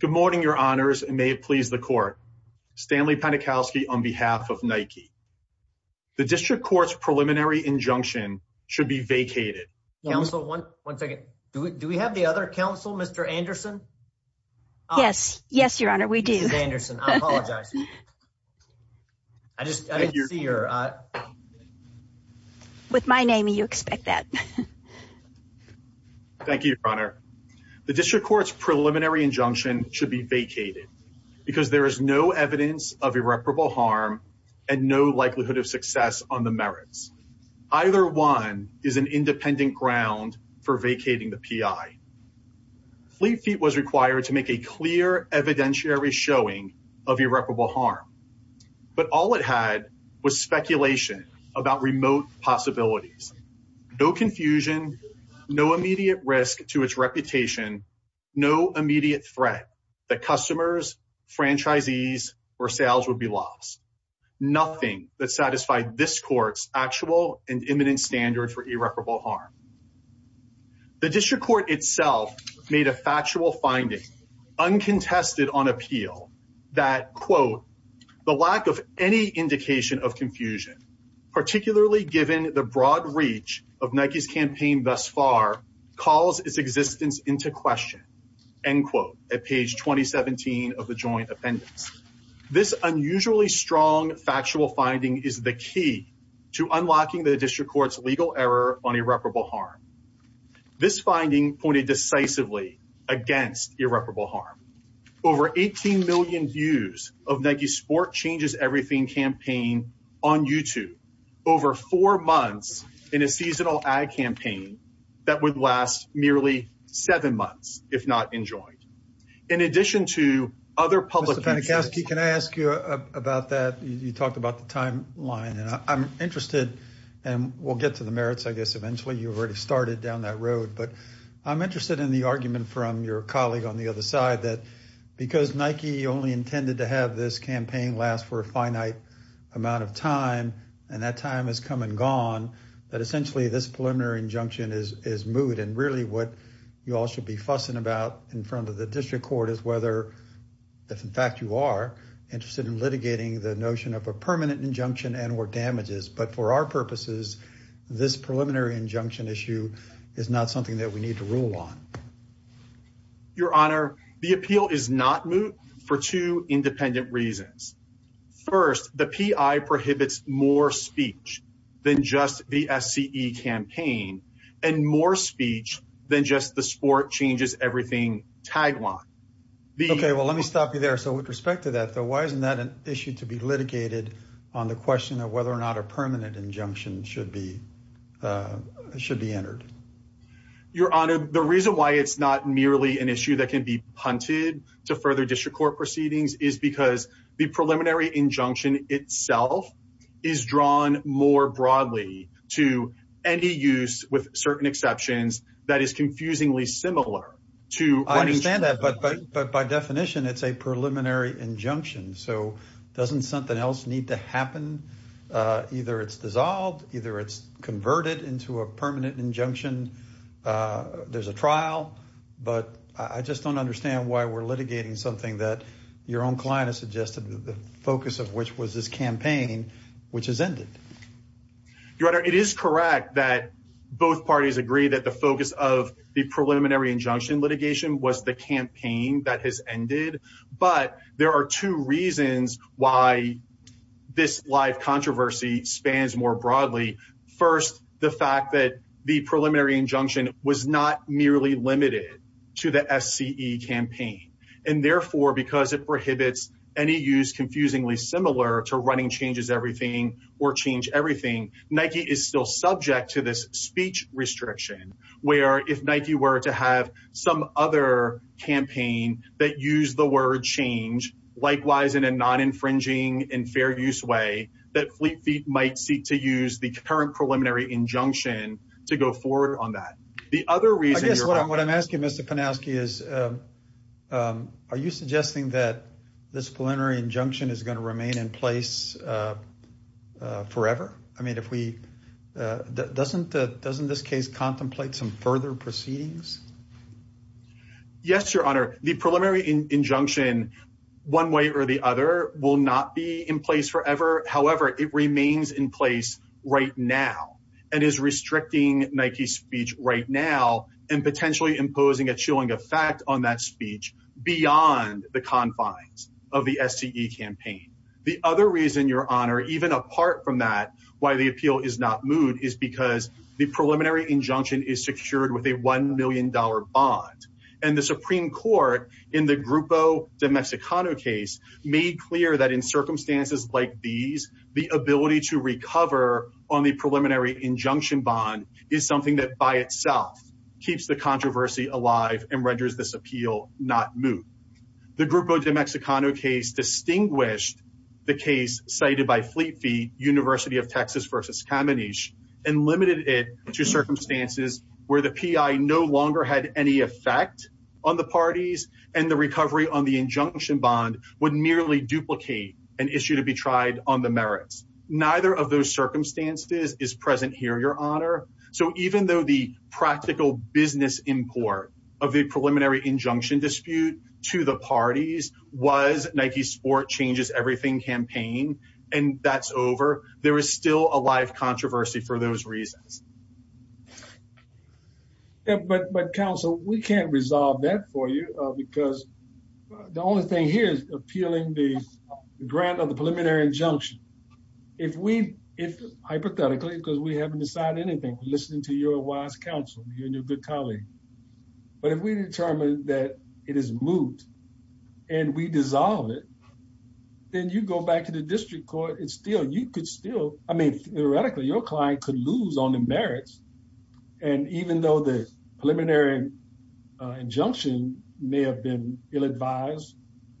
Good morning, Your Honors, and may it please the Court, Stanley Panikowsky on behalf of Nike. The District Court's preliminary injunction should be vacated. Counsel, one second. Do we have the other counsel, Mr. Anderson? Yes. Yes, Your Honor. We do. Mr. Anderson, I apologize. I just didn't see your… With my name, you expect that. Thank you, Your Honor. The District Court's preliminary injunction should be vacated because there is no evidence of irreparable harm and no likelihood of success on the merits. Either one is an independent ground for vacating the P.I. Fleet Feet was required to make a clear evidentiary showing of irreparable harm, but all it had was speculation about remote possibilities, no confusion, no immediate risk to its reputation, no immediate threat that customers, franchisees, or sales would be lost, nothing that satisfied this Court's actual and imminent standards for irreparable harm. The District Court itself made a factual finding uncontested on appeal that, quote, the lack of any indication of confusion, particularly given the broad reach of Nike's campaign thus far, calls its existence into question, end quote, at page 2017 of the joint appendix. This unusually strong factual finding is the key to unlocking the District Court's legal error on irreparable harm. This finding pointed decisively against irreparable harm. Over 18 million views of Nike's Sport Changes Everything campaign on YouTube, over four months in a seasonal ad campaign that would last merely seven months if not enjoined. In addition to other public interests— Mr. Panagoski, can I ask you about that? You talked about the timeline, and I'm interested, and we'll get to the merits, I guess, eventually. You've already started down that road, but I'm interested in the argument from your colleague on the other side that because Nike only intended to have this campaign last for a finite amount of time, and that time has come and gone, that essentially this preliminary injunction is moot, and really what you all should be fussing about in front of the District Court is whether, if in fact you are, interested in litigating the notion of a permanent injunction and or damages, but for our purposes, this preliminary injunction issue is not something that we need to rule on. Your Honor, the appeal is not moot for two independent reasons. First, the PI prohibits more speech than just the SCE campaign, and more speech than just the sport-changes-everything tagline. Okay, well, let me stop you there. So with respect to that, though, why isn't that an issue to be litigated on the question of whether or not a permanent injunction should be entered? Your Honor, the reason why it's not merely an issue that can be punted to further District Court proceedings is because the preliminary injunction itself is drawn more broadly to any use, with certain exceptions, that is confusingly similar to running short on time. I understand that, but by definition, it's a preliminary injunction, so doesn't something else need to happen? Either it's dissolved, either it's converted into a permanent injunction. There's a trial, but I just don't understand why we're litigating something that your own client has suggested, the focus of which was this campaign, which has ended. Your Honor, it is correct that both parties agree that the focus of the preliminary injunction litigation was the campaign that has ended, but there are two reasons why this live controversy spans more broadly. First, the fact that the preliminary injunction was not merely limited to the SCE campaign, and therefore, because it prohibits any use confusingly similar to running changes-everything or change-everything, Nike is still subject to this speech restriction, where if Nike were to have some other campaign that used the word change, likewise in a non-infringing and fair use way, that Fleet Feet might seek to use the current preliminary injunction to go forward on that. The other reason- I guess what I'm asking, Mr. Panowski, is are you suggesting that this preliminary injunction is going to remain in place forever? I mean, if we-doesn't this case contemplate some further proceedings? Yes, Your Honor. The preliminary injunction, one way or the other, will not be in place forever. However, it remains in place right now and is restricting Nike's speech right now and The other reason, Your Honor, even apart from that, why the appeal is not moved is because the preliminary injunction is secured with a $1 million bond. And the Supreme Court, in the Grupo de Mexicano case, made clear that in circumstances like these, the ability to recover on the preliminary injunction bond is something that by itself keeps the controversy alive and renders this appeal not moved. The Grupo de Mexicano case distinguished the case cited by Fleet Feet, University of Texas versus Caminiche, and limited it to circumstances where the PI no longer had any effect on the parties and the recovery on the injunction bond would merely duplicate an issue to be tried on the merits. Neither of those circumstances is present here, Your Honor. So even though the practical business import of the preliminary injunction dispute to the parties was Nike's Sport Changes Everything campaign and that's over, there is still a live controversy for those reasons. But counsel, we can't resolve that for you because the only thing here is appealing the grant of the preliminary injunction. If we, hypothetically, because we haven't decided anything, listening to your wise counsel, you and your good colleague, but if we determine that it is moved and we dissolve it, then you go back to the district court and still you could still, I mean, theoretically, your client could lose on the merits. And even though the preliminary injunction may have been ill-advised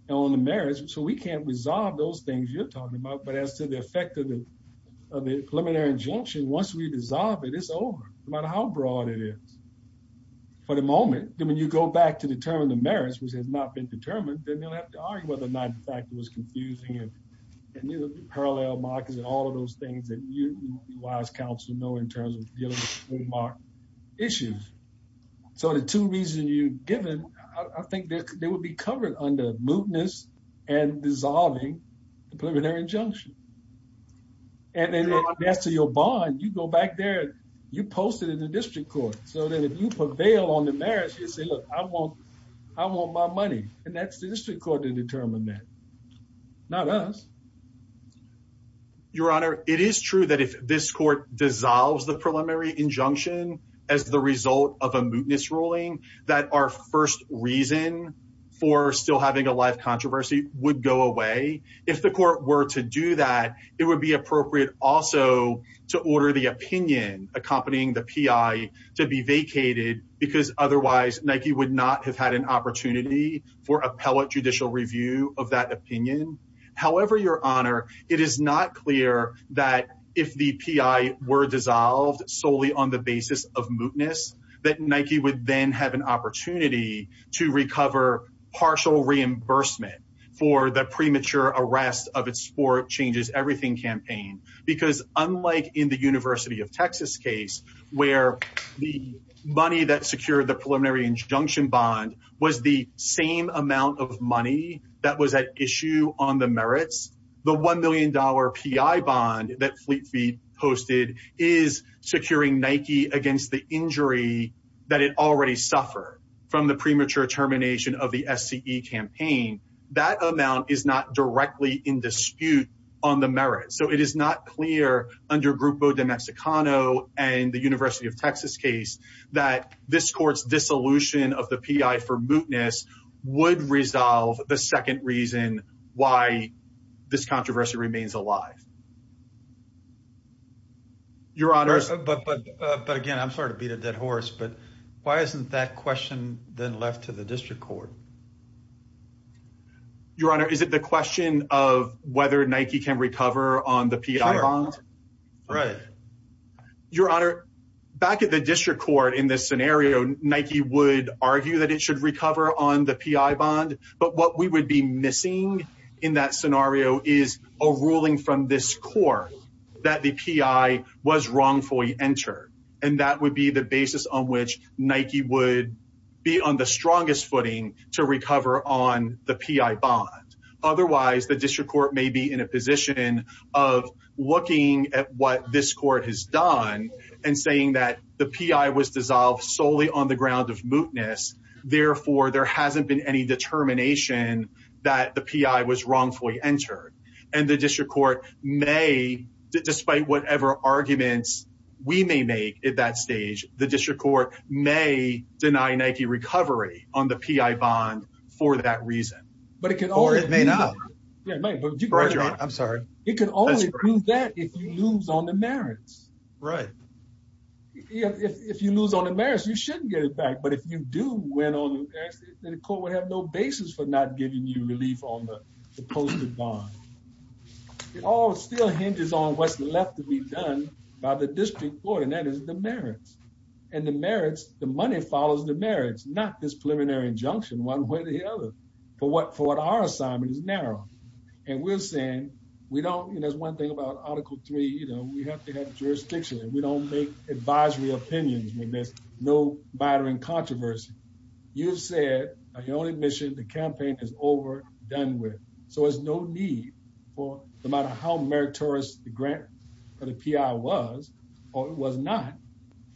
on the merits, so we can't resolve those things you're talking about. But as to the effect of the preliminary injunction, once we dissolve it, it's over, no matter how broad it is. For the moment, when you go back to determine the merits, which has not been determined, then you'll have to argue whether or not the fact was confusing and parallel markets and all of those things that you, wise counsel, know in terms of dealing with the trademark issues. So the two reasons you've given, I think they would be covered under mootness and dissolving the preliminary injunction. And then as to your bond, you go back there, you post it in the district court so that if you prevail on the merits, you say, look, I want I want my money. And that's the district court to determine that. Not us. Your Honor, it is true that if this court dissolves the preliminary injunction as the controversy would go away, if the court were to do that, it would be appropriate also to order the opinion accompanying the P.I. to be vacated because otherwise Nike would not have had an opportunity for appellate judicial review of that opinion. However, Your Honor, it is not clear that if the P.I. were dissolved solely on the basis of mootness, that Nike would then have an opportunity to recover partial reimbursement for the premature arrest of its Sport Changes Everything campaign. Because unlike in the University of Texas case, where the money that secured the preliminary injunction bond was the same amount of money that was at issue on the merits, the one million dollar P.I. bond that Fleet Feet posted is securing Nike against the injury that it already suffered from the premature termination of the SCE campaign. That amount is not directly in dispute on the merits. So it is not clear under Grupo de Mexicano and the University of Texas case that this court's dissolution of the P.I. for mootness would resolve the second reason why this controversy remains alive. Your Honor, but again, I'm sorry to beat a dead horse, but why isn't that question then left to the district court? Your Honor, is it the question of whether Nike can recover on the P.I. bond? Your Honor, back at the district court in this scenario, Nike would argue that it should recover on the P.I. bond. So is a ruling from this court that the P.I. was wrongfully entered, and that would be the basis on which Nike would be on the strongest footing to recover on the P.I. bond. Otherwise, the district court may be in a position of looking at what this court has done and saying that the P.I. was dissolved solely on the ground of mootness. Therefore, there hasn't been any determination that the P.I. was wrongfully entered. And the district court may, despite whatever arguments we may make at that stage, the district court may deny Nike recovery on the P.I. bond for that reason. But it can only be that if you lose on the merits. Right. If you lose on the merits, you shouldn't get it back. But if you do win on the merits, then the court would have no basis for not giving you relief on the posted bond. It all still hinges on what's left to be done by the district court, and that is the merits and the merits. The money follows the merits, not this preliminary injunction one way or the other for what for what our assignment is narrow. And we're saying we don't. And that's one thing about Article three. You know, we have to have jurisdiction and we don't make advisory opinions when there's no mattering controversy. You've said your only mission, the campaign is over, done with. So there's no need for no matter how meritorious the grant or the P.I. was or was not.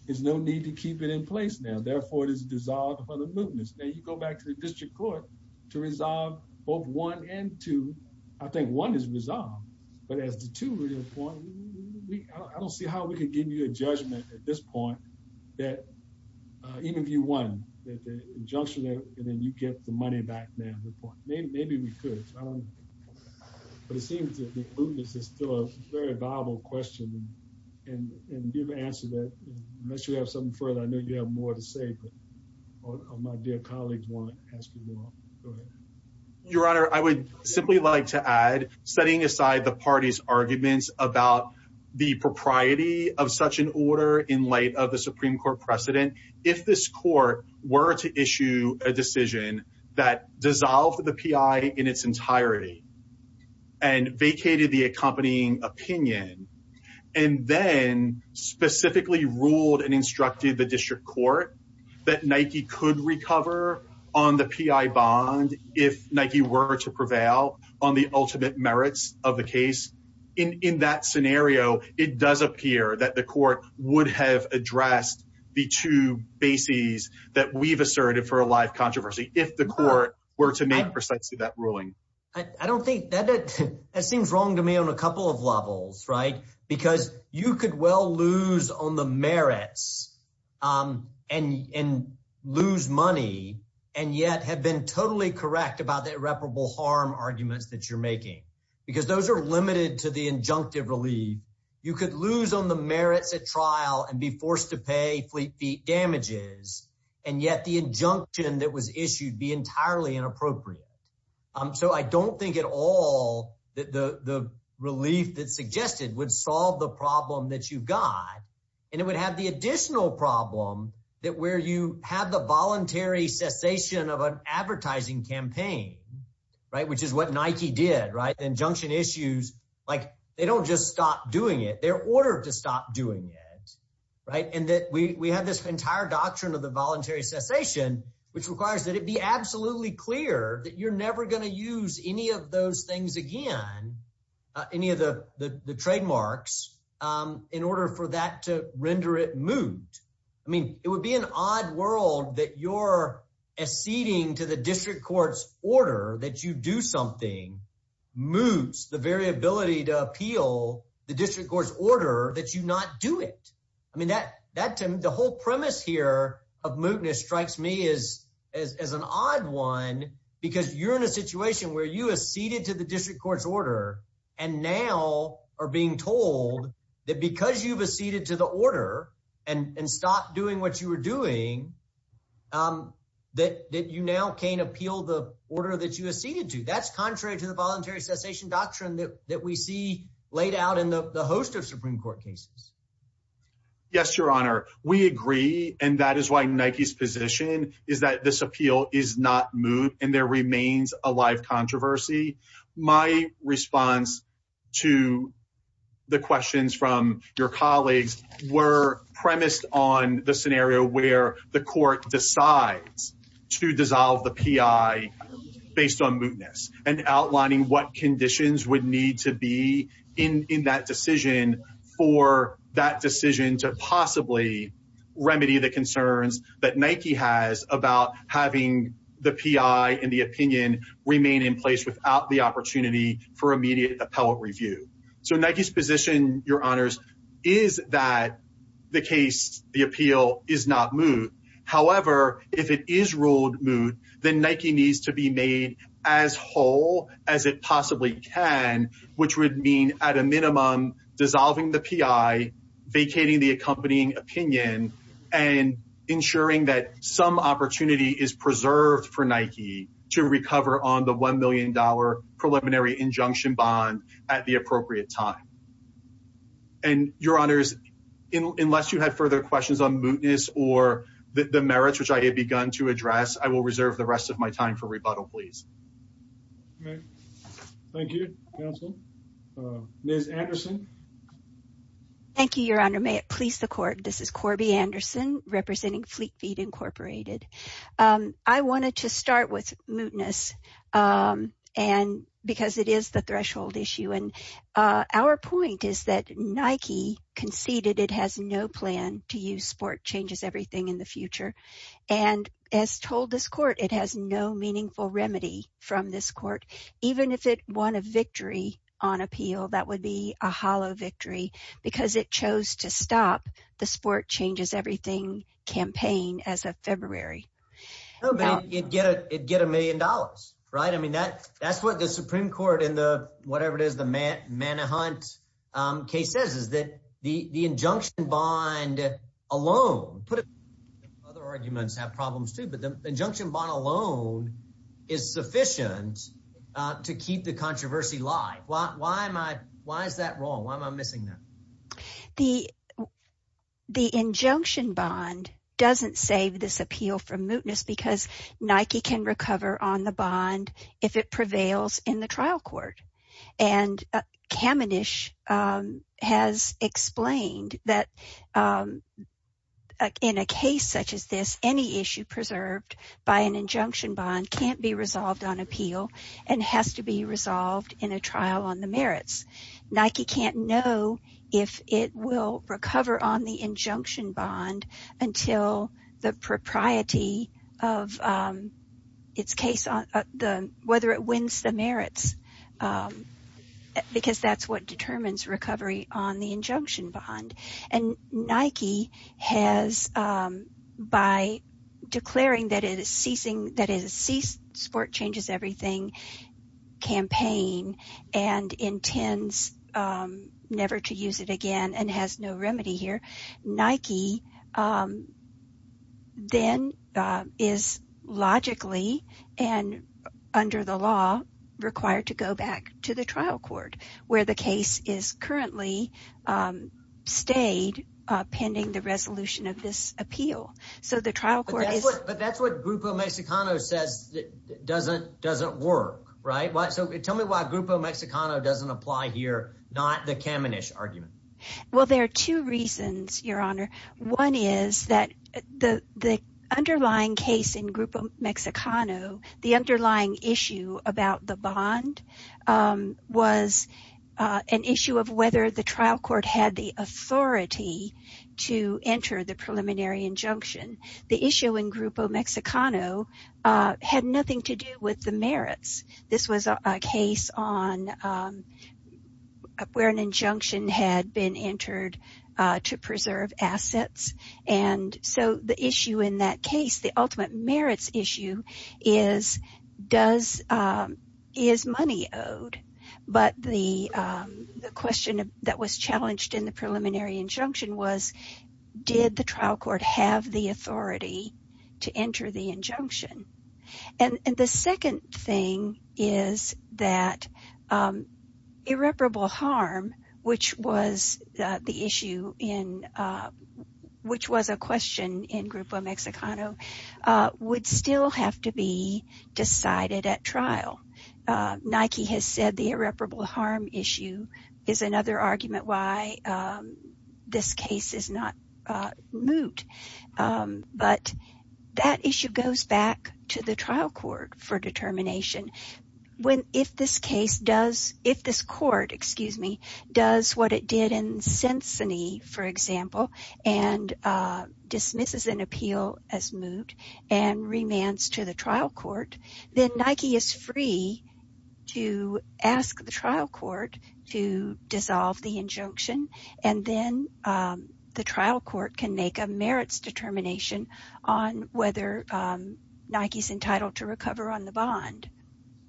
There's no need to keep it in place now. Therefore, it is dissolved for the movements. Now you go back to the district court to resolve both one and two. I think one is resolved. But as the two point, I don't see how we could give you a judgment at this point that even if you won the injunction and then you get the money back now, maybe we could. But it seems that this is still a very viable question and give an answer that unless you have something further, I know you have more to say, but my dear colleagues want to ask you more. Your Honor, I would simply like to add setting aside the party's arguments about the propriety of such an order in light of the Supreme Court precedent, if this court were to issue a decision that dissolved the P.I. in its entirety and vacated the accompanying opinion and then specifically ruled and instructed the district court that Nike could recover on the P.I. bond if Nike were to prevail on the ultimate merits of the case. In that scenario, it does appear that the court would have addressed the two bases that we've asserted for a live controversy if the court were to make precisely that ruling. I don't think that that seems wrong to me on a couple of levels, right, because you could well lose on the merits and lose money and yet have been totally correct about the irreparable harm arguments that you're making because those are limited to the injunctive relief. You could lose on the merits at trial and be forced to pay fleet feet damages. And yet the injunction that was issued be entirely inappropriate. So I don't think at all that the relief that suggested would solve the problem that you've got and it would have the additional problem that where you have the voluntary cessation of an advertising campaign, right, which is what Nike did, right, injunction issues like they don't just stop doing it. They're ordered to stop doing it. Right. And that we have this entire doctrine of the voluntary cessation, which requires that it be absolutely clear that you're never going to use any of those things again, any of the trademarks in order for that to render it moot. I mean, it would be an odd world that you're acceding to the district court's order that you do something moots the very ability to appeal the district court's order that you not do it. I mean, that the whole premise here of mootness strikes me as as an odd one, because you're in a situation where you acceded to the district court's order and now are being told that because you've acceded to the order and stopped doing what you were doing, that you now can appeal the order that you acceded to. That's contrary to the voluntary cessation doctrine that we see laid out in the host of Supreme Court cases. Yes, Your Honor, we agree. And that is why Nike's position is that this appeal is not moot and there remains a live controversy. My response to the questions from your colleagues were premised on the scenario where the court decides to dissolve the P.I. based on mootness and outlining what conditions would need to be in that decision for that decision to possibly remedy the concerns that Nike has about having the P.I. and the opinion remain in place without the opportunity for immediate appellate review. So Nike's position, Your Honors, is that the case, the appeal is not moot. However, if it is ruled moot, then Nike needs to be made as whole as it possibly can, which would mean at a minimum dissolving the P.I., vacating the accompanying opinion and ensuring that some opportunity is preserved for Nike to recover on the one million dollar preliminary injunction bond at the appropriate time. And Your Honors, unless you had further questions on mootness or the merits which I had begun to address, I will reserve the rest of my time for rebuttal, please. All right. Thank you, counsel. Ms. Anderson. Thank you, Your Honor, may it please the court. This is Corby Anderson representing Fleet Feet Incorporated. I wanted to start with mootness and because it is the threshold issue. And our point is that Nike conceded it has no plan to use sport changes everything in the from this court, even if it won a victory on appeal. That would be a hollow victory because it chose to stop the sport changes everything campaign as of February. No, but it'd get a million dollars, right? I mean, that that's what the Supreme Court in the whatever it is, the Manahunt case says is that the injunction bond alone put other arguments have problems, too. But the injunction bond alone is sufficient to keep the controversy live. Why am I why is that wrong? Why am I missing that? The the injunction bond doesn't save this appeal from mootness because Nike can recover on the bond if it prevails in the trial court. And Kamenish has explained that in a case such as this, any issue preserved by an injunction bond can't be resolved on appeal and has to be resolved in a trial on the merits. Nike can't know if it will recover on the injunction bond until the propriety of its case, whether it wins the merits, because that's what determines recovery on the injunction bond. And Nike has by declaring that it is ceasing, that it is sport changes everything campaign and intends never to use it again and has no remedy here. Nike then is logically and under the law required to go back to the trial court where the case is currently stayed pending the resolution of this appeal. So the trial court is. But that's what Grupo Mexicano says doesn't doesn't work. Right. So tell me why Grupo Mexicano doesn't apply here, not the Kamenish argument. Well, there are two reasons, Your Honor. One is that the underlying case in Grupo Mexicano, the underlying issue about the bond was an issue of whether the trial court had the authority to enter the preliminary injunction. The issue in Grupo Mexicano had nothing to do with the merits. This was a case on where an injunction had been entered to preserve assets. And so the issue in that case, the ultimate merits issue is does is money owed. But the question that was challenged in the preliminary injunction was, did the trial court have the authority to enter the injunction? And the second thing is that irreparable harm, which was the issue in which was a question in Grupo Mexicano, would still have to be decided at trial. Nike has said the irreparable harm issue is another argument why this case is not moot. But that issue goes back to the trial court for determination. When if this case does if this court, excuse me, does what it did in Cincinnati, for example, and dismisses an appeal as moot and remands to the trial court, then Nike is free to ask the trial court to dissolve the injunction. And then the trial court can make a merits determination on whether Nike is entitled to recover on the bond.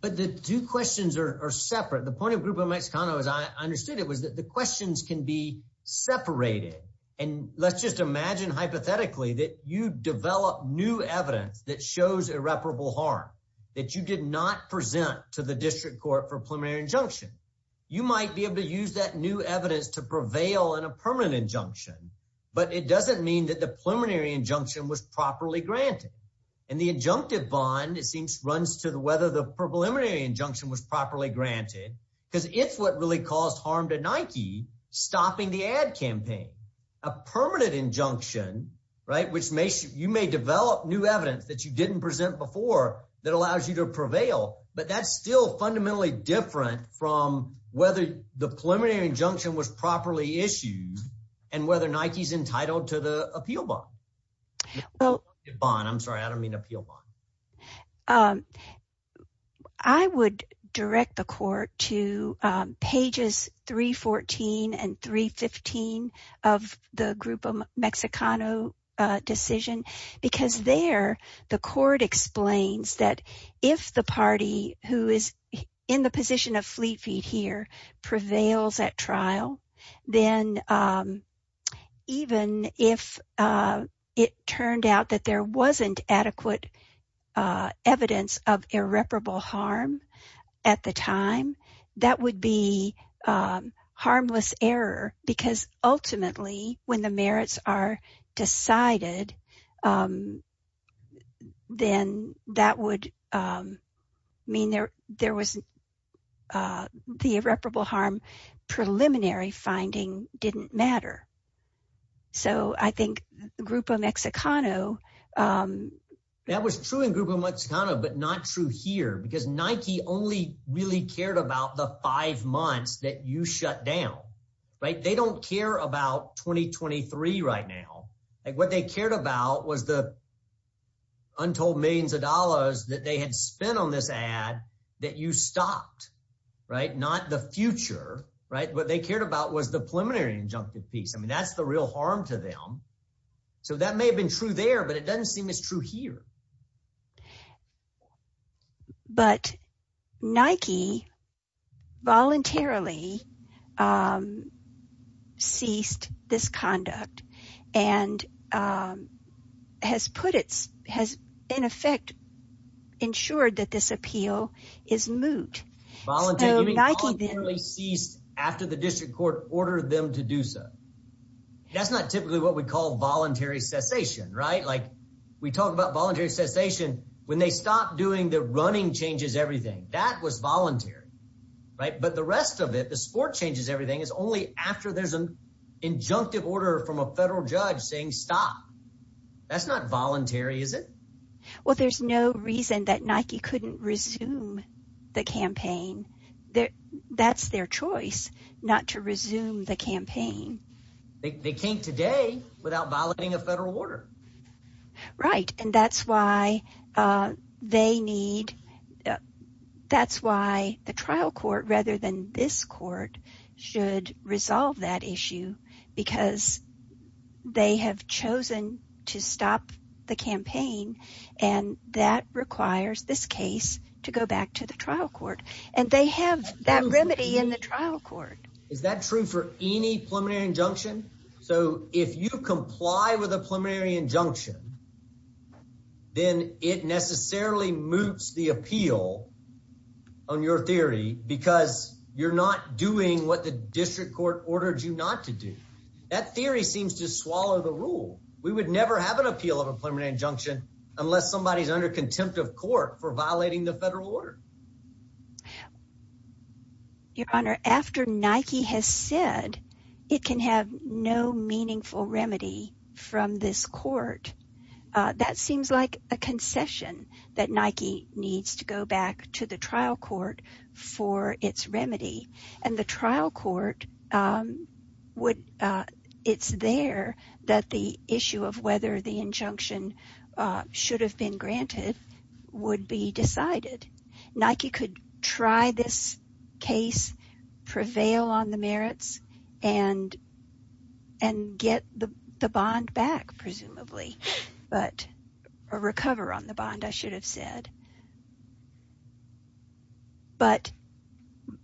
But the two questions are separate. The point of Grupo Mexicano, as I understood it, was that the questions can be separated. And let's just imagine hypothetically that you develop new evidence that shows irreparable harm that you did not present to the district court for a preliminary injunction. You might be able to use that new evidence to prevail in a permanent injunction, but it doesn't mean that the preliminary injunction was properly granted. And the injunctive bond, it seems, runs to whether the preliminary injunction was properly granted because it's what really caused harm to Nike stopping the ad campaign. A permanent injunction, right, which makes you may develop new evidence But that's still fundamentally different from whether the preliminary injunction was properly issued and whether Nike is entitled to the appeal bond. Well, bond, I'm sorry, I don't mean appeal bond. I would direct the court to pages 314 and 315 of the Grupo Mexicano decision, because there the court explains that if the party who is in the position of Fleet Feet here prevails at trial, then even if it turned out that there wasn't adequate evidence of irreparable harm at the time, that would be harmless error because ultimately when the then that would mean there there was the irreparable harm preliminary finding didn't matter. So I think the Grupo Mexicano. That was true in Grupo Mexicano, but not true here because Nike only really cared about the five months that you shut down. Right. They don't care about 2023 right now. And what they cared about was the. Untold millions of dollars that they had spent on this ad that you stopped, right, not the future, right, what they cared about was the preliminary injunctive piece. I mean, that's the real harm to them. So that may have been true there, but it doesn't seem as true here. But Nike voluntarily ceased this conduct and has put its has, in effect, ensured that this appeal is moot. Voluntarily ceased after the district court ordered them to do so. That's not typically what we call voluntary cessation, right? Like we talk about voluntary cessation when they stop doing the running changes, everything that was voluntary. Right. But the rest of it, the sport changes. Everything is only after there's an injunctive order from a federal judge saying stop. That's not voluntary, is it? Well, there's no reason that Nike couldn't resume the campaign that that's their choice not to resume the campaign. They can't today without violating a federal order. Right. And that's why they need. That's why the trial court, rather than this court, should resolve that issue because they have chosen to stop the campaign. And that requires this case to go back to the trial court. And they have that remedy in the trial court. Is that true for any preliminary injunction? So if you comply with a preliminary injunction, then it necessarily moots the appeal on your theory because you're not doing what the district court ordered you not to do. That theory seems to swallow the rule. We would never have an appeal of a preliminary injunction unless somebody is under contempt of court for violating the federal order. Your Honor, after Nike has said it can have no meaningful remedy from this court, that seems like a concession that Nike needs to go back to the trial court for its remedy. And the trial court would it's there that the issue of whether the injunction should have been granted would be decided. Nike could try this case, prevail on the merits and and get the bond back, presumably. But a recover on the bond, I should have said. But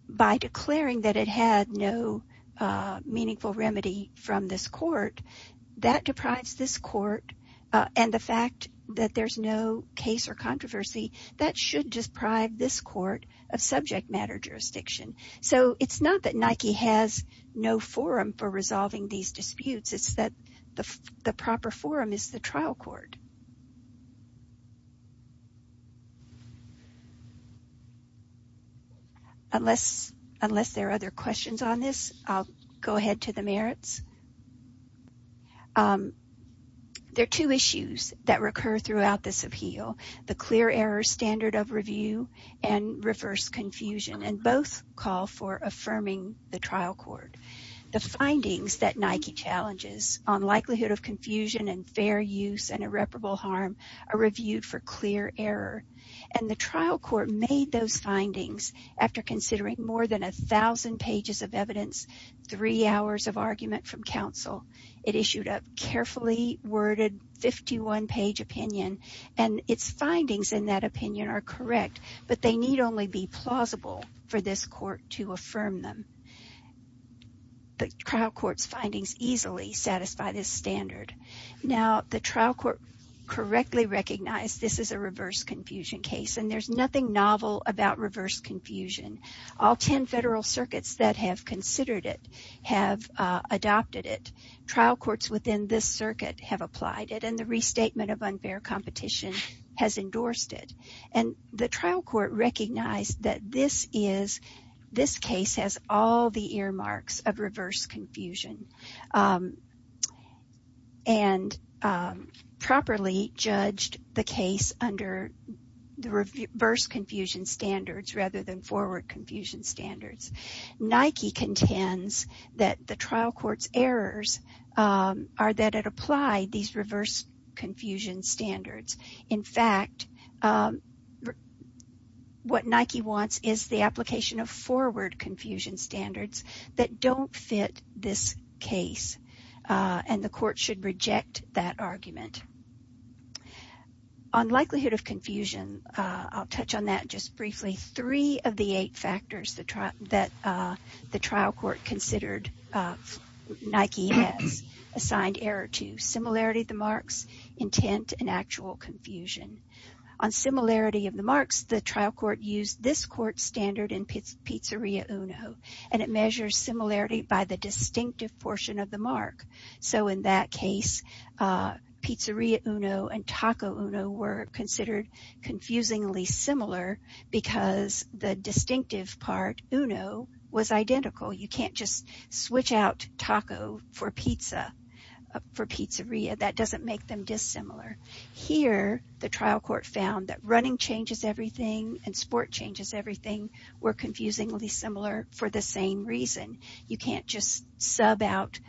by declaring that it had no meaningful remedy from this court, that deprives this court of subject matter jurisdiction. So it's not that Nike has no forum for resolving these disputes. It's that the proper forum is the trial court. Unless unless there are other questions on this, I'll go ahead to the merits. There are two issues that recur throughout this appeal. The clear error standard of review and reverse confusion and both call for affirming the trial court. The findings that Nike challenges on likelihood of confusion and fair use and irreparable harm are reviewed for clear error. And the trial court made those findings after considering more than a thousand pages of evidence, three hours of argument from counsel. It issued a carefully worded 51 page opinion and its findings in that opinion are correct. But they need only be plausible for this court to affirm them. The trial court's findings easily satisfy this standard. Now, the trial court correctly recognized this is a reverse confusion case and there's nothing novel about reverse confusion. All 10 federal circuits that have considered it have adopted it. Trial courts within this circuit have applied it. And the restatement of unfair competition has endorsed it. And the trial court recognized that this is this case has all the earmarks of reverse confusion and properly judged the case under the reverse confusion standards rather than forward confusion standards. Nike contends that the trial court's errors are that it applied these reverse confusion standards. In fact, what Nike wants is the application of forward confusion standards that don't fit this case. And the court should reject that argument. On likelihood of confusion, I'll touch on that just briefly. Three of the eight factors that the trial court considered Nike has assigned error to similarity of the marks, intent, and actual confusion. On similarity of the marks, the trial court used this court standard in Pizzeria Uno and it measures similarity by the distinctive portion of the mark. So in that case, Pizzeria Uno and Taco Uno were considered confusingly similar because the distinctive part, Uno, was identical. You can't just switch out taco for pizza for pizzeria. That doesn't make them dissimilar. Here, the trial court found that running changes everything and sport changes everything were confusingly similar for the same reason. You can't just sub out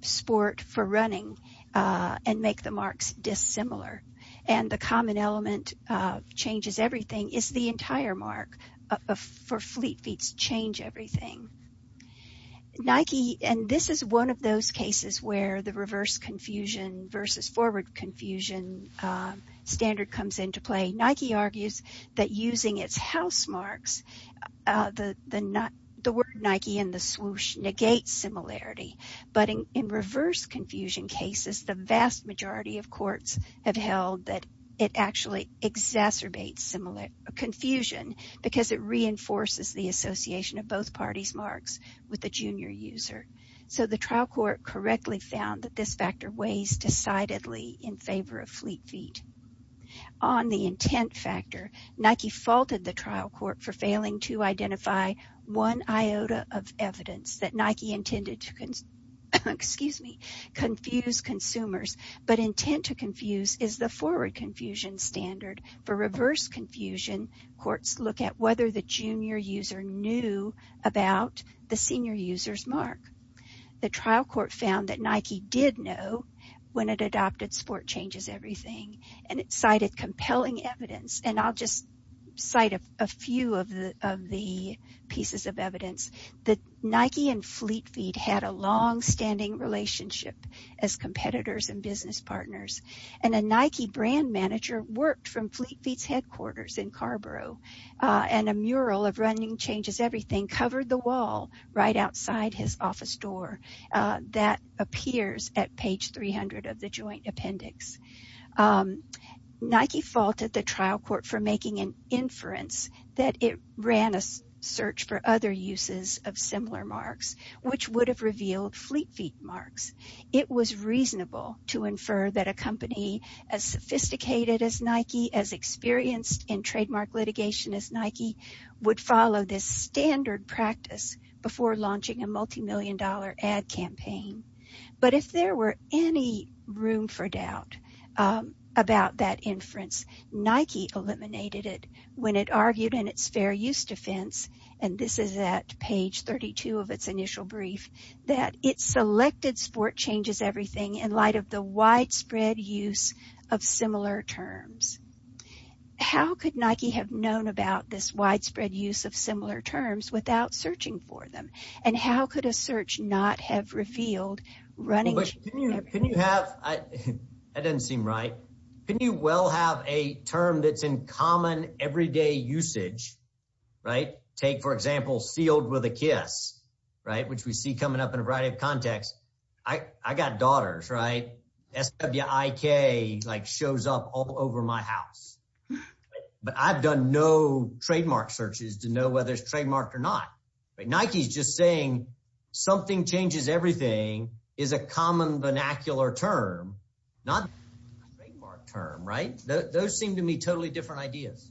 sport for running and make the marks dissimilar. And the common element of changes everything is the entire mark for fleet feets change everything. Nike, and this is one of those cases where the reverse confusion versus forward confusion standard comes into play. Nike argues that using its house marks, the word Nike in the swoosh negates similarity, but in reverse confusion cases, the vast majority of courts have held that it actually exacerbates confusion because it reinforces the association of both parties marks with the junior user. So the trial court correctly found that this factor weighs decidedly in favor of fleet feet. On the intent factor, Nike faulted the trial court for failing to identify one iota of evidence that Nike intended to confuse consumers. But intent to confuse is the forward confusion standard. For reverse confusion, courts look at whether the junior user knew about the senior user's mark. The trial court found that Nike did know when it adopted sport changes everything and it cited compelling evidence. And I'll just cite a few of the of the pieces of evidence that Nike and Fleet Feet had a long standing relationship as competitors and business partners and a Nike brand manager worked from Fleet Feet's headquarters in Carrboro and a mural of running changes everything covered the wall right outside his office door that appears at page 300 of the joint appendix. Nike faulted the trial court for making an inference that it ran a search for other uses of similar marks, which would have revealed Fleet Feet marks. It was reasonable to infer that a company as sophisticated as Nike, as experienced in trademark litigation as Nike would follow this standard practice before launching a multimillion dollar ad campaign. But if there were any room for doubt about that inference, Nike eliminated it when it argued in its fair use defense. And this is at page 32 of its initial brief that it selected sport changes everything in light of the widespread use of similar terms. How could Nike have known about this widespread use of similar terms without searching for running? Can you have that doesn't seem right. Can you well have a term that's in common everyday usage? Right. Take, for example, sealed with a kiss. Right. Which we see coming up in a variety of context. I got daughters, right? SWIK like shows up all over my house. But I've done no trademark searches to know whether it's trademarked or not. Nike's just saying something changes. Everything is a common vernacular term, not a term. Right. Those seem to me totally different ideas.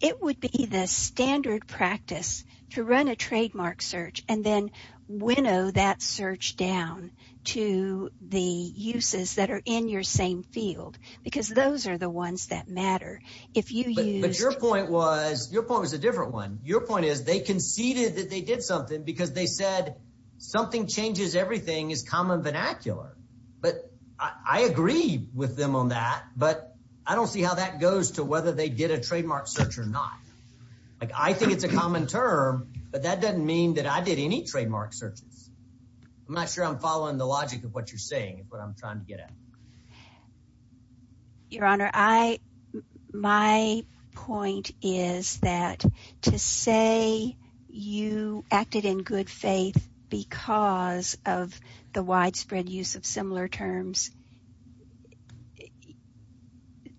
It would be the standard practice to run a trademark search and then winnow that search down to the uses that are in your same field, because those are the ones that matter. If you use your point was your point was a different one. Your point is they conceded that they did something because they said something changes. Everything is common vernacular. But I agree with them on that. But I don't see how that goes to whether they did a trademark search or not. Like, I think it's a common term, but that doesn't mean that I did any trademark searches. I'm not sure I'm following the logic of what you're saying, what I'm trying to get at. Your Honor, I my point is that to say you acted in good faith because of the widespread use of similar terms,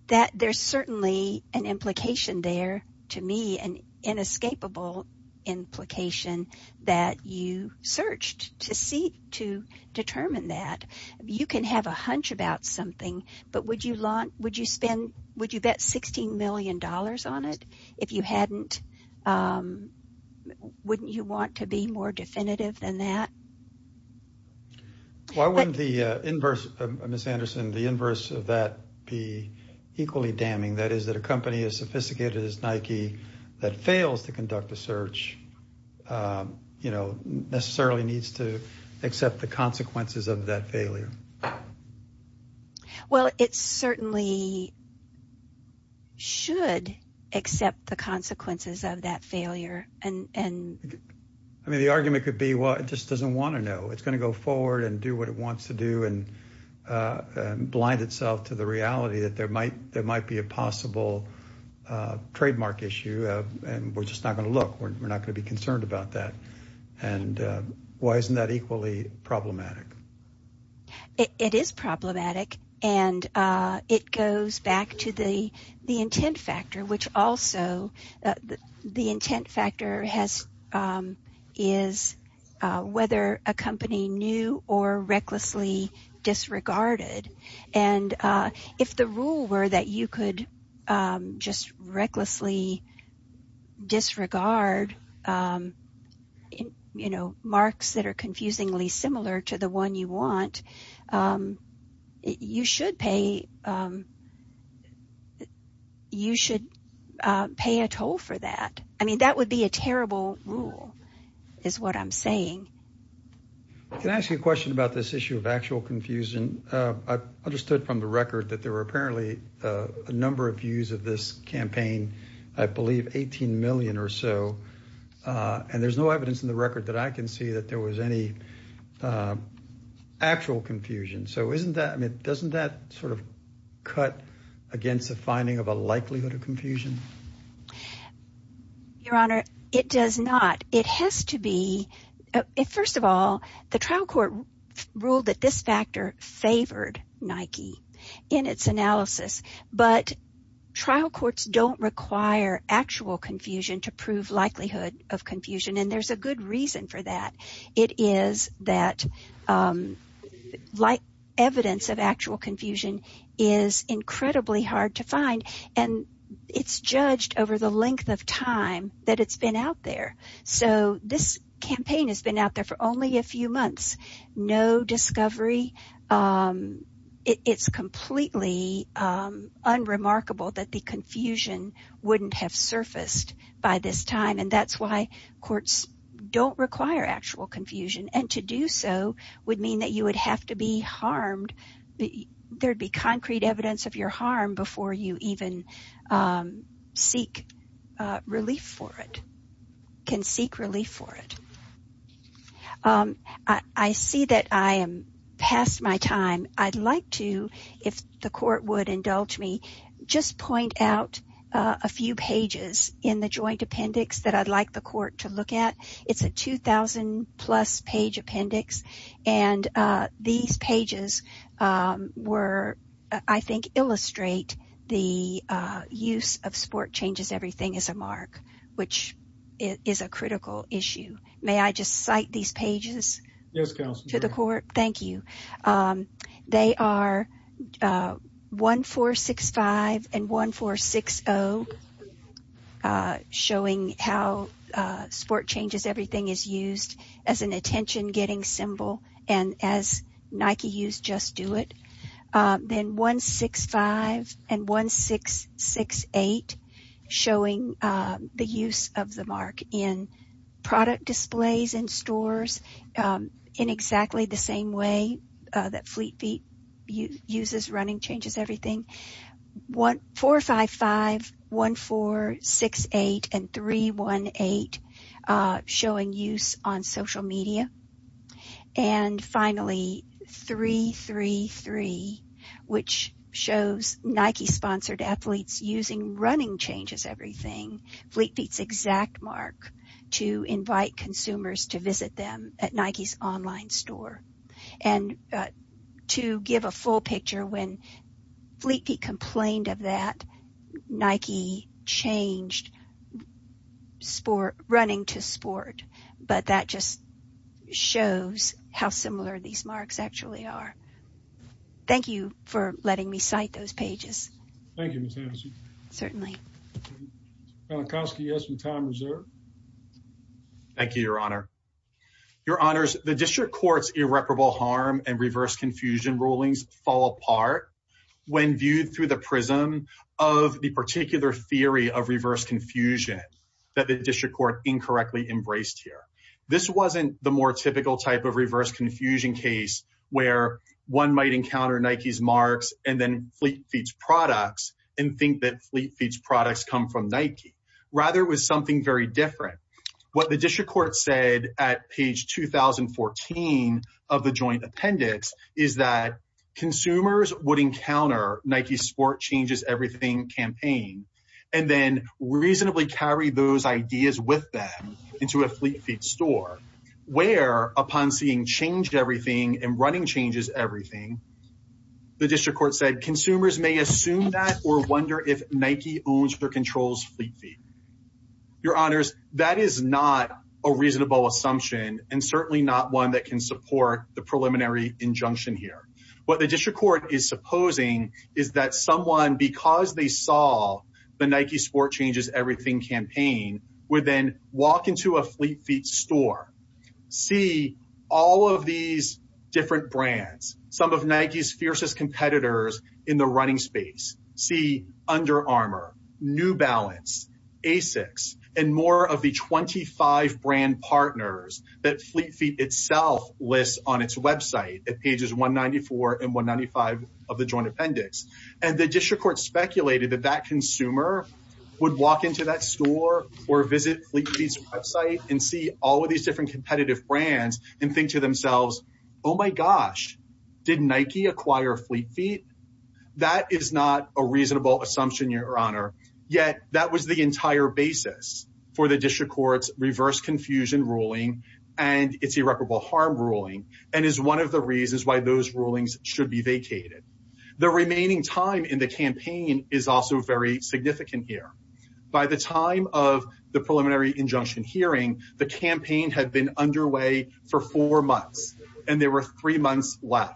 that there's certainly an implication there to me, an inescapable implication that you searched to see to determine that. You can have a hunch about something, but would you want would you spend would you bet 16 million dollars on it if you hadn't? Wouldn't you want to be more definitive than that? Why wouldn't the inverse, Ms. Anderson, the inverse of that be equally damning, that is, that a company as sophisticated as Nike that fails to conduct a search, you know, necessarily needs to accept the consequences of that failure? Well, it certainly should accept the consequences of that failure. And I mean, the argument could be, well, it just doesn't want to know it's going to go forward and do what it wants to do and blind itself to the reality that there might there might be a possible trademark issue and we're just not going to look, we're not going to be it is problematic. And it goes back to the the intent factor, which also the intent factor has is whether a company knew or recklessly disregarded. And if the rule were that you could just recklessly disregard, you know, marks that are there, you should pay, you should pay a toll for that. I mean, that would be a terrible rule is what I'm saying. Can I ask you a question about this issue of actual confusion? I understood from the record that there were apparently a number of views of this campaign, I believe 18 million or so. And there's no evidence in the record that I can see that there was any actual confusion. So isn't that I mean, doesn't that sort of cut against the finding of a likelihood of confusion? Your Honor, it does not. It has to be if first of all, the trial court ruled that this factor favored Nike in its likelihood of confusion. And there's a good reason for that. It is that like evidence of actual confusion is incredibly hard to find. And it's judged over the length of time that it's been out there. So this campaign has been out there for only a few months. No discovery. It's completely unremarkable that the confusion wouldn't have surfaced by this time. And that's why courts don't require actual confusion. And to do so would mean that you would have to be harmed. There'd be concrete evidence of your harm before you even seek relief for it, can seek relief for it. I see that I am past my time. I'd like to, if the court would indulge me, just point out a few pages in the joint appendix that I'd like the court to look at. It's a 2000 plus page appendix. And these pages were, I think, illustrate the use of sport changes. Everything is a mark, which is a critical issue. May I just cite these pages to the court? Thank you. They are 1465 and 1460. Showing how sport changes, everything is used as an attention getting symbol and as Nike use, just do it. Then 165 and 1668 showing the use of the mark in product displays in stores in exactly the same way that Fleet Feet uses running changes everything. 1455, 1468 and 318 showing use on social media. And finally, 333, which shows Nike sponsored athletes using running changes, everything Fleet Feet's exact mark to invite consumers to visit them at Nike's online store. And to give a full picture, when Fleet Feet complained of that, Nike changed running to sport. But that just shows how similar these marks actually are. Thank you for letting me cite those pages. Thank you, Ms. Hampson. Certainly. Mr. Polakowski, you have some time reserved. Thank you, Your Honor. Your Honors, the district court's irreparable harm and reverse confusion rulings fall apart when viewed through the prism of the particular theory of reverse confusion that the district court incorrectly embraced here. This wasn't the more typical type of reverse confusion case where one might encounter Nike's marks and then Fleet Feet's products and think that Fleet Feet's products come from Nike. Rather, it was something very different. What the district court said at page 2014 of the joint appendix is that consumers would encounter Nike's sport changes everything campaign and then reasonably carry those ideas with them into a Fleet Feet store, where upon seeing change everything and running changes everything, the district court said consumers may assume that or wonder if Nike owns or controls Fleet Feet. Your Honors, that is not a reasonable assumption and certainly not one that can support the preliminary injunction here. What the district court is supposing is that someone, because they saw the Nike sport changes everything campaign, would then walk into a Fleet Feet store, see all of these different brands, some of Nike's fiercest competitors in the running space, see Under Asics and more of the 25 brand partners that Fleet Feet itself lists on its website at pages 194 and 195 of the joint appendix. And the district court speculated that that consumer would walk into that store or visit Fleet Feet's website and see all of these different competitive brands and think to themselves, oh, my gosh, did Nike acquire Fleet Feet? That is not a reasonable assumption, Your Honor. Yet that was the entire basis for the district court's reverse confusion ruling and its irreparable harm ruling and is one of the reasons why those rulings should be vacated. The remaining time in the campaign is also very significant here. By the time of the preliminary injunction hearing, the campaign had been underway for four months and there were three months left.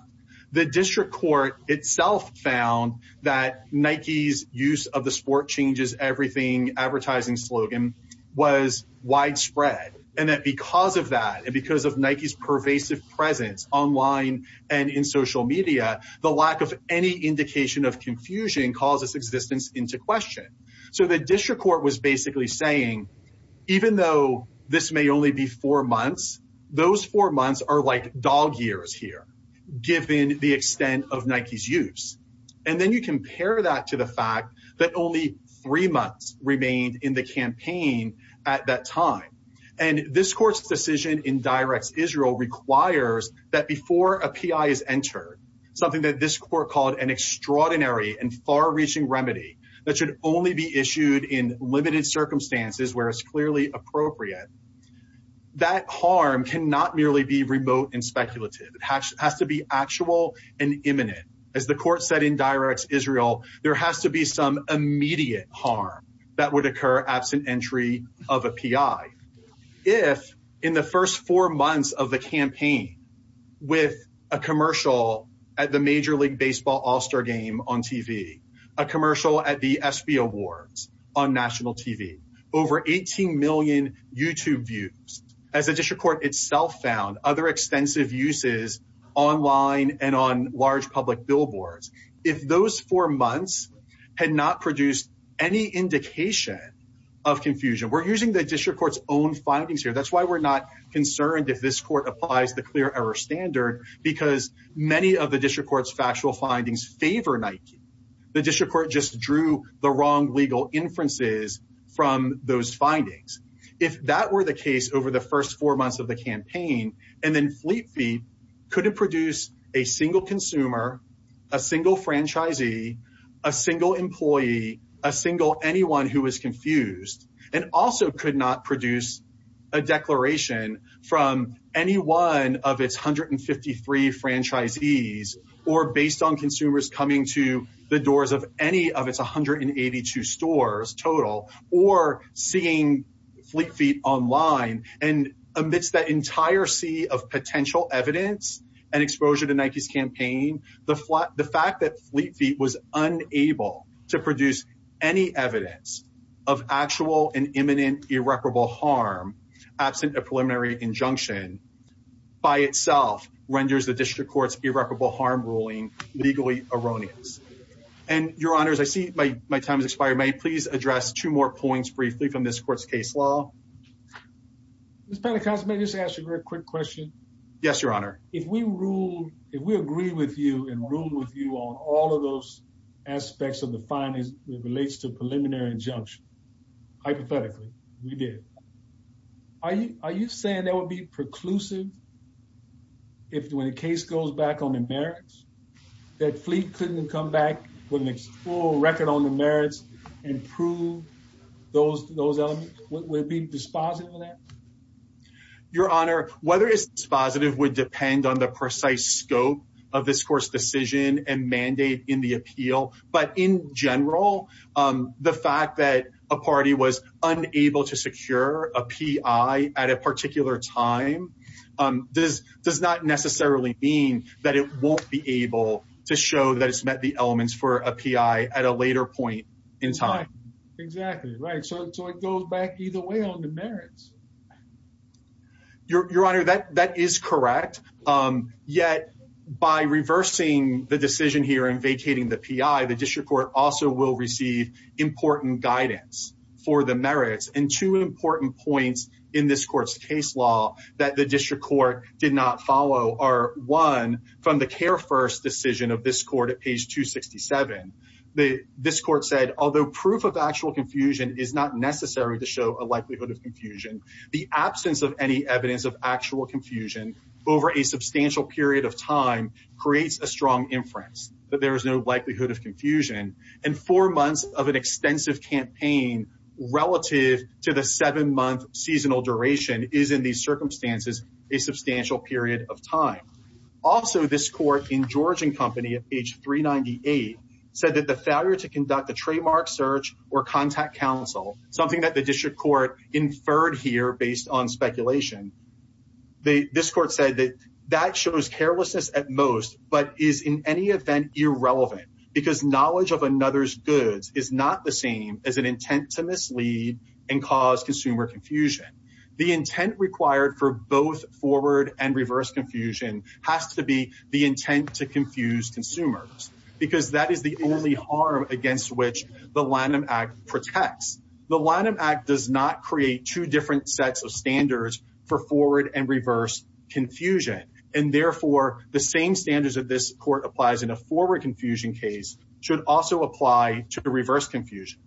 The district court itself found that Nike's use of the sport changes everything advertising slogan was widespread and that because of that and because of Nike's pervasive presence online and in social media, the lack of any indication of confusion calls its existence into question. So the district court was basically saying, even though this may only be four months, those four months are like dog years here, given the extent of Nike's use. And then you compare that to the fact that only three months remained in the campaign at that time. And this court's decision in directs Israel requires that before a PI is entered, something that this court called an extraordinary and far reaching remedy that should only be issued in limited circumstances where it's clearly appropriate. That harm cannot merely be remote and speculative. It has to be actual and imminent. As the court said in directs Israel, there has to be some immediate harm that would occur absent entry of a PI. If in the first four months of the campaign, with a commercial at the Major League Baseball All-Star Game on TV, a commercial at the ESPY Awards on national TV, over 18 million YouTube views, as the district court itself found, other extensive uses online and on large public billboards. If those four months had not produced any indication of confusion, we're using the district court's own findings here. That's why we're not concerned if this court applies the clear error standard, because many of the district court's factual findings favor Nike. The district court just drew the wrong legal inferences from those findings. If that were the case over the first four months of the campaign and then Fleet Feet couldn't produce a single consumer, a single franchisee, a single employee, a single anyone who was confused and also could not produce a declaration from any one of its 153 franchisees or based on consumers coming to the doors of any of its 182 stores total or seeing Fleet Feet online and amidst that entire sea of potential evidence and exposure to Nike's campaign, the fact that Fleet Feet was unable to produce any evidence of actual and imminent irreparable harm absent a preliminary injunction by itself renders the district court's irreparable harm ruling legally erroneous. And your honors, I see my time has expired. May I please address two more points briefly from this court's case law? Ms. Pentecost, may I just ask you a quick question? Yes, your honor. If we rule, if we agree with you and rule with you on all of those aspects of the injunction, hypothetically, we did, are you, are you saying that would be preclusive if when the case goes back on the merits that Fleet couldn't come back with a full record on the merits and prove those, those elements would be dispositive of that? Your honor, whether it's dispositive would depend on the precise scope of this court's decision and mandate in the appeal. But in general, the fact that a party was unable to secure a PI at a particular time does, does not necessarily mean that it won't be able to show that it's met the elements for a PI at a later point in time. Exactly right. So it goes back either way on the merits. Your honor, that that is correct. Yet by reversing the decision here and vacating the PI, the district court also will receive important guidance for the merits and two important points in this court's case law that the district court did not follow are one from the care first decision of this court at page 267. The, this court said, although proof of actual confusion is not necessary to show a substantial period of time creates a strong inference that there is no likelihood of confusion and four months of an extensive campaign relative to the seven month seasonal duration is in these circumstances, a substantial period of time. Also, this court in Georgian company at page 398 said that the failure to conduct a trademark search or contact counsel, something that the district court inferred here based on that shows carelessness at most, but is in any event irrelevant because knowledge of another's goods is not the same as an intent to mislead and cause consumer confusion. The intent required for both forward and reverse confusion has to be the intent to confuse consumers because that is the only harm against which the Lanham Act protects. The Lanham Act does not create two different sets of standards for forward and reverse confusion, and therefore the same standards of this court applies in a forward confusion case should also apply to the reverse confusion.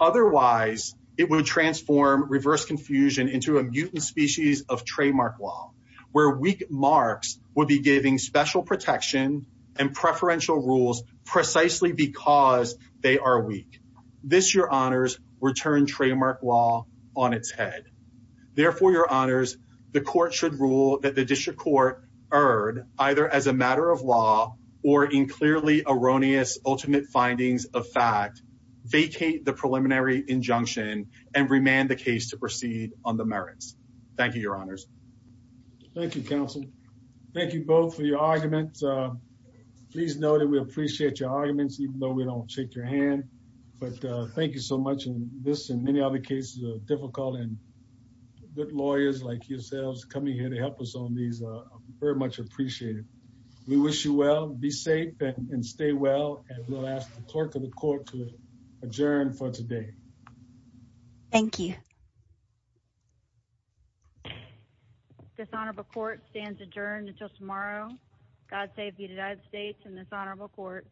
Otherwise it would transform reverse confusion into a mutant species of trademark law where weak marks will be giving special protection and preferential rules precisely because they are weak. This your honors return trademark law on its head. Therefore, your honors, the court should rule that the district court erred either as a matter of law or in clearly erroneous, ultimate findings of fact vacate the preliminary injunction and remand the case to proceed on the merits. Thank you, your honors. Thank you, counsel. Thank you both for your arguments. Please know that we appreciate your arguments, even though we don't shake your hand. But thank you so much. And this and many other cases of difficult and good lawyers like yourselves coming here to help us on these are very much appreciated. We wish you well. Be safe and stay well. And we'll ask the clerk of the court to adjourn for today. Thank you. Dishonorable court stands adjourned until tomorrow. God save the United States and this honorable court.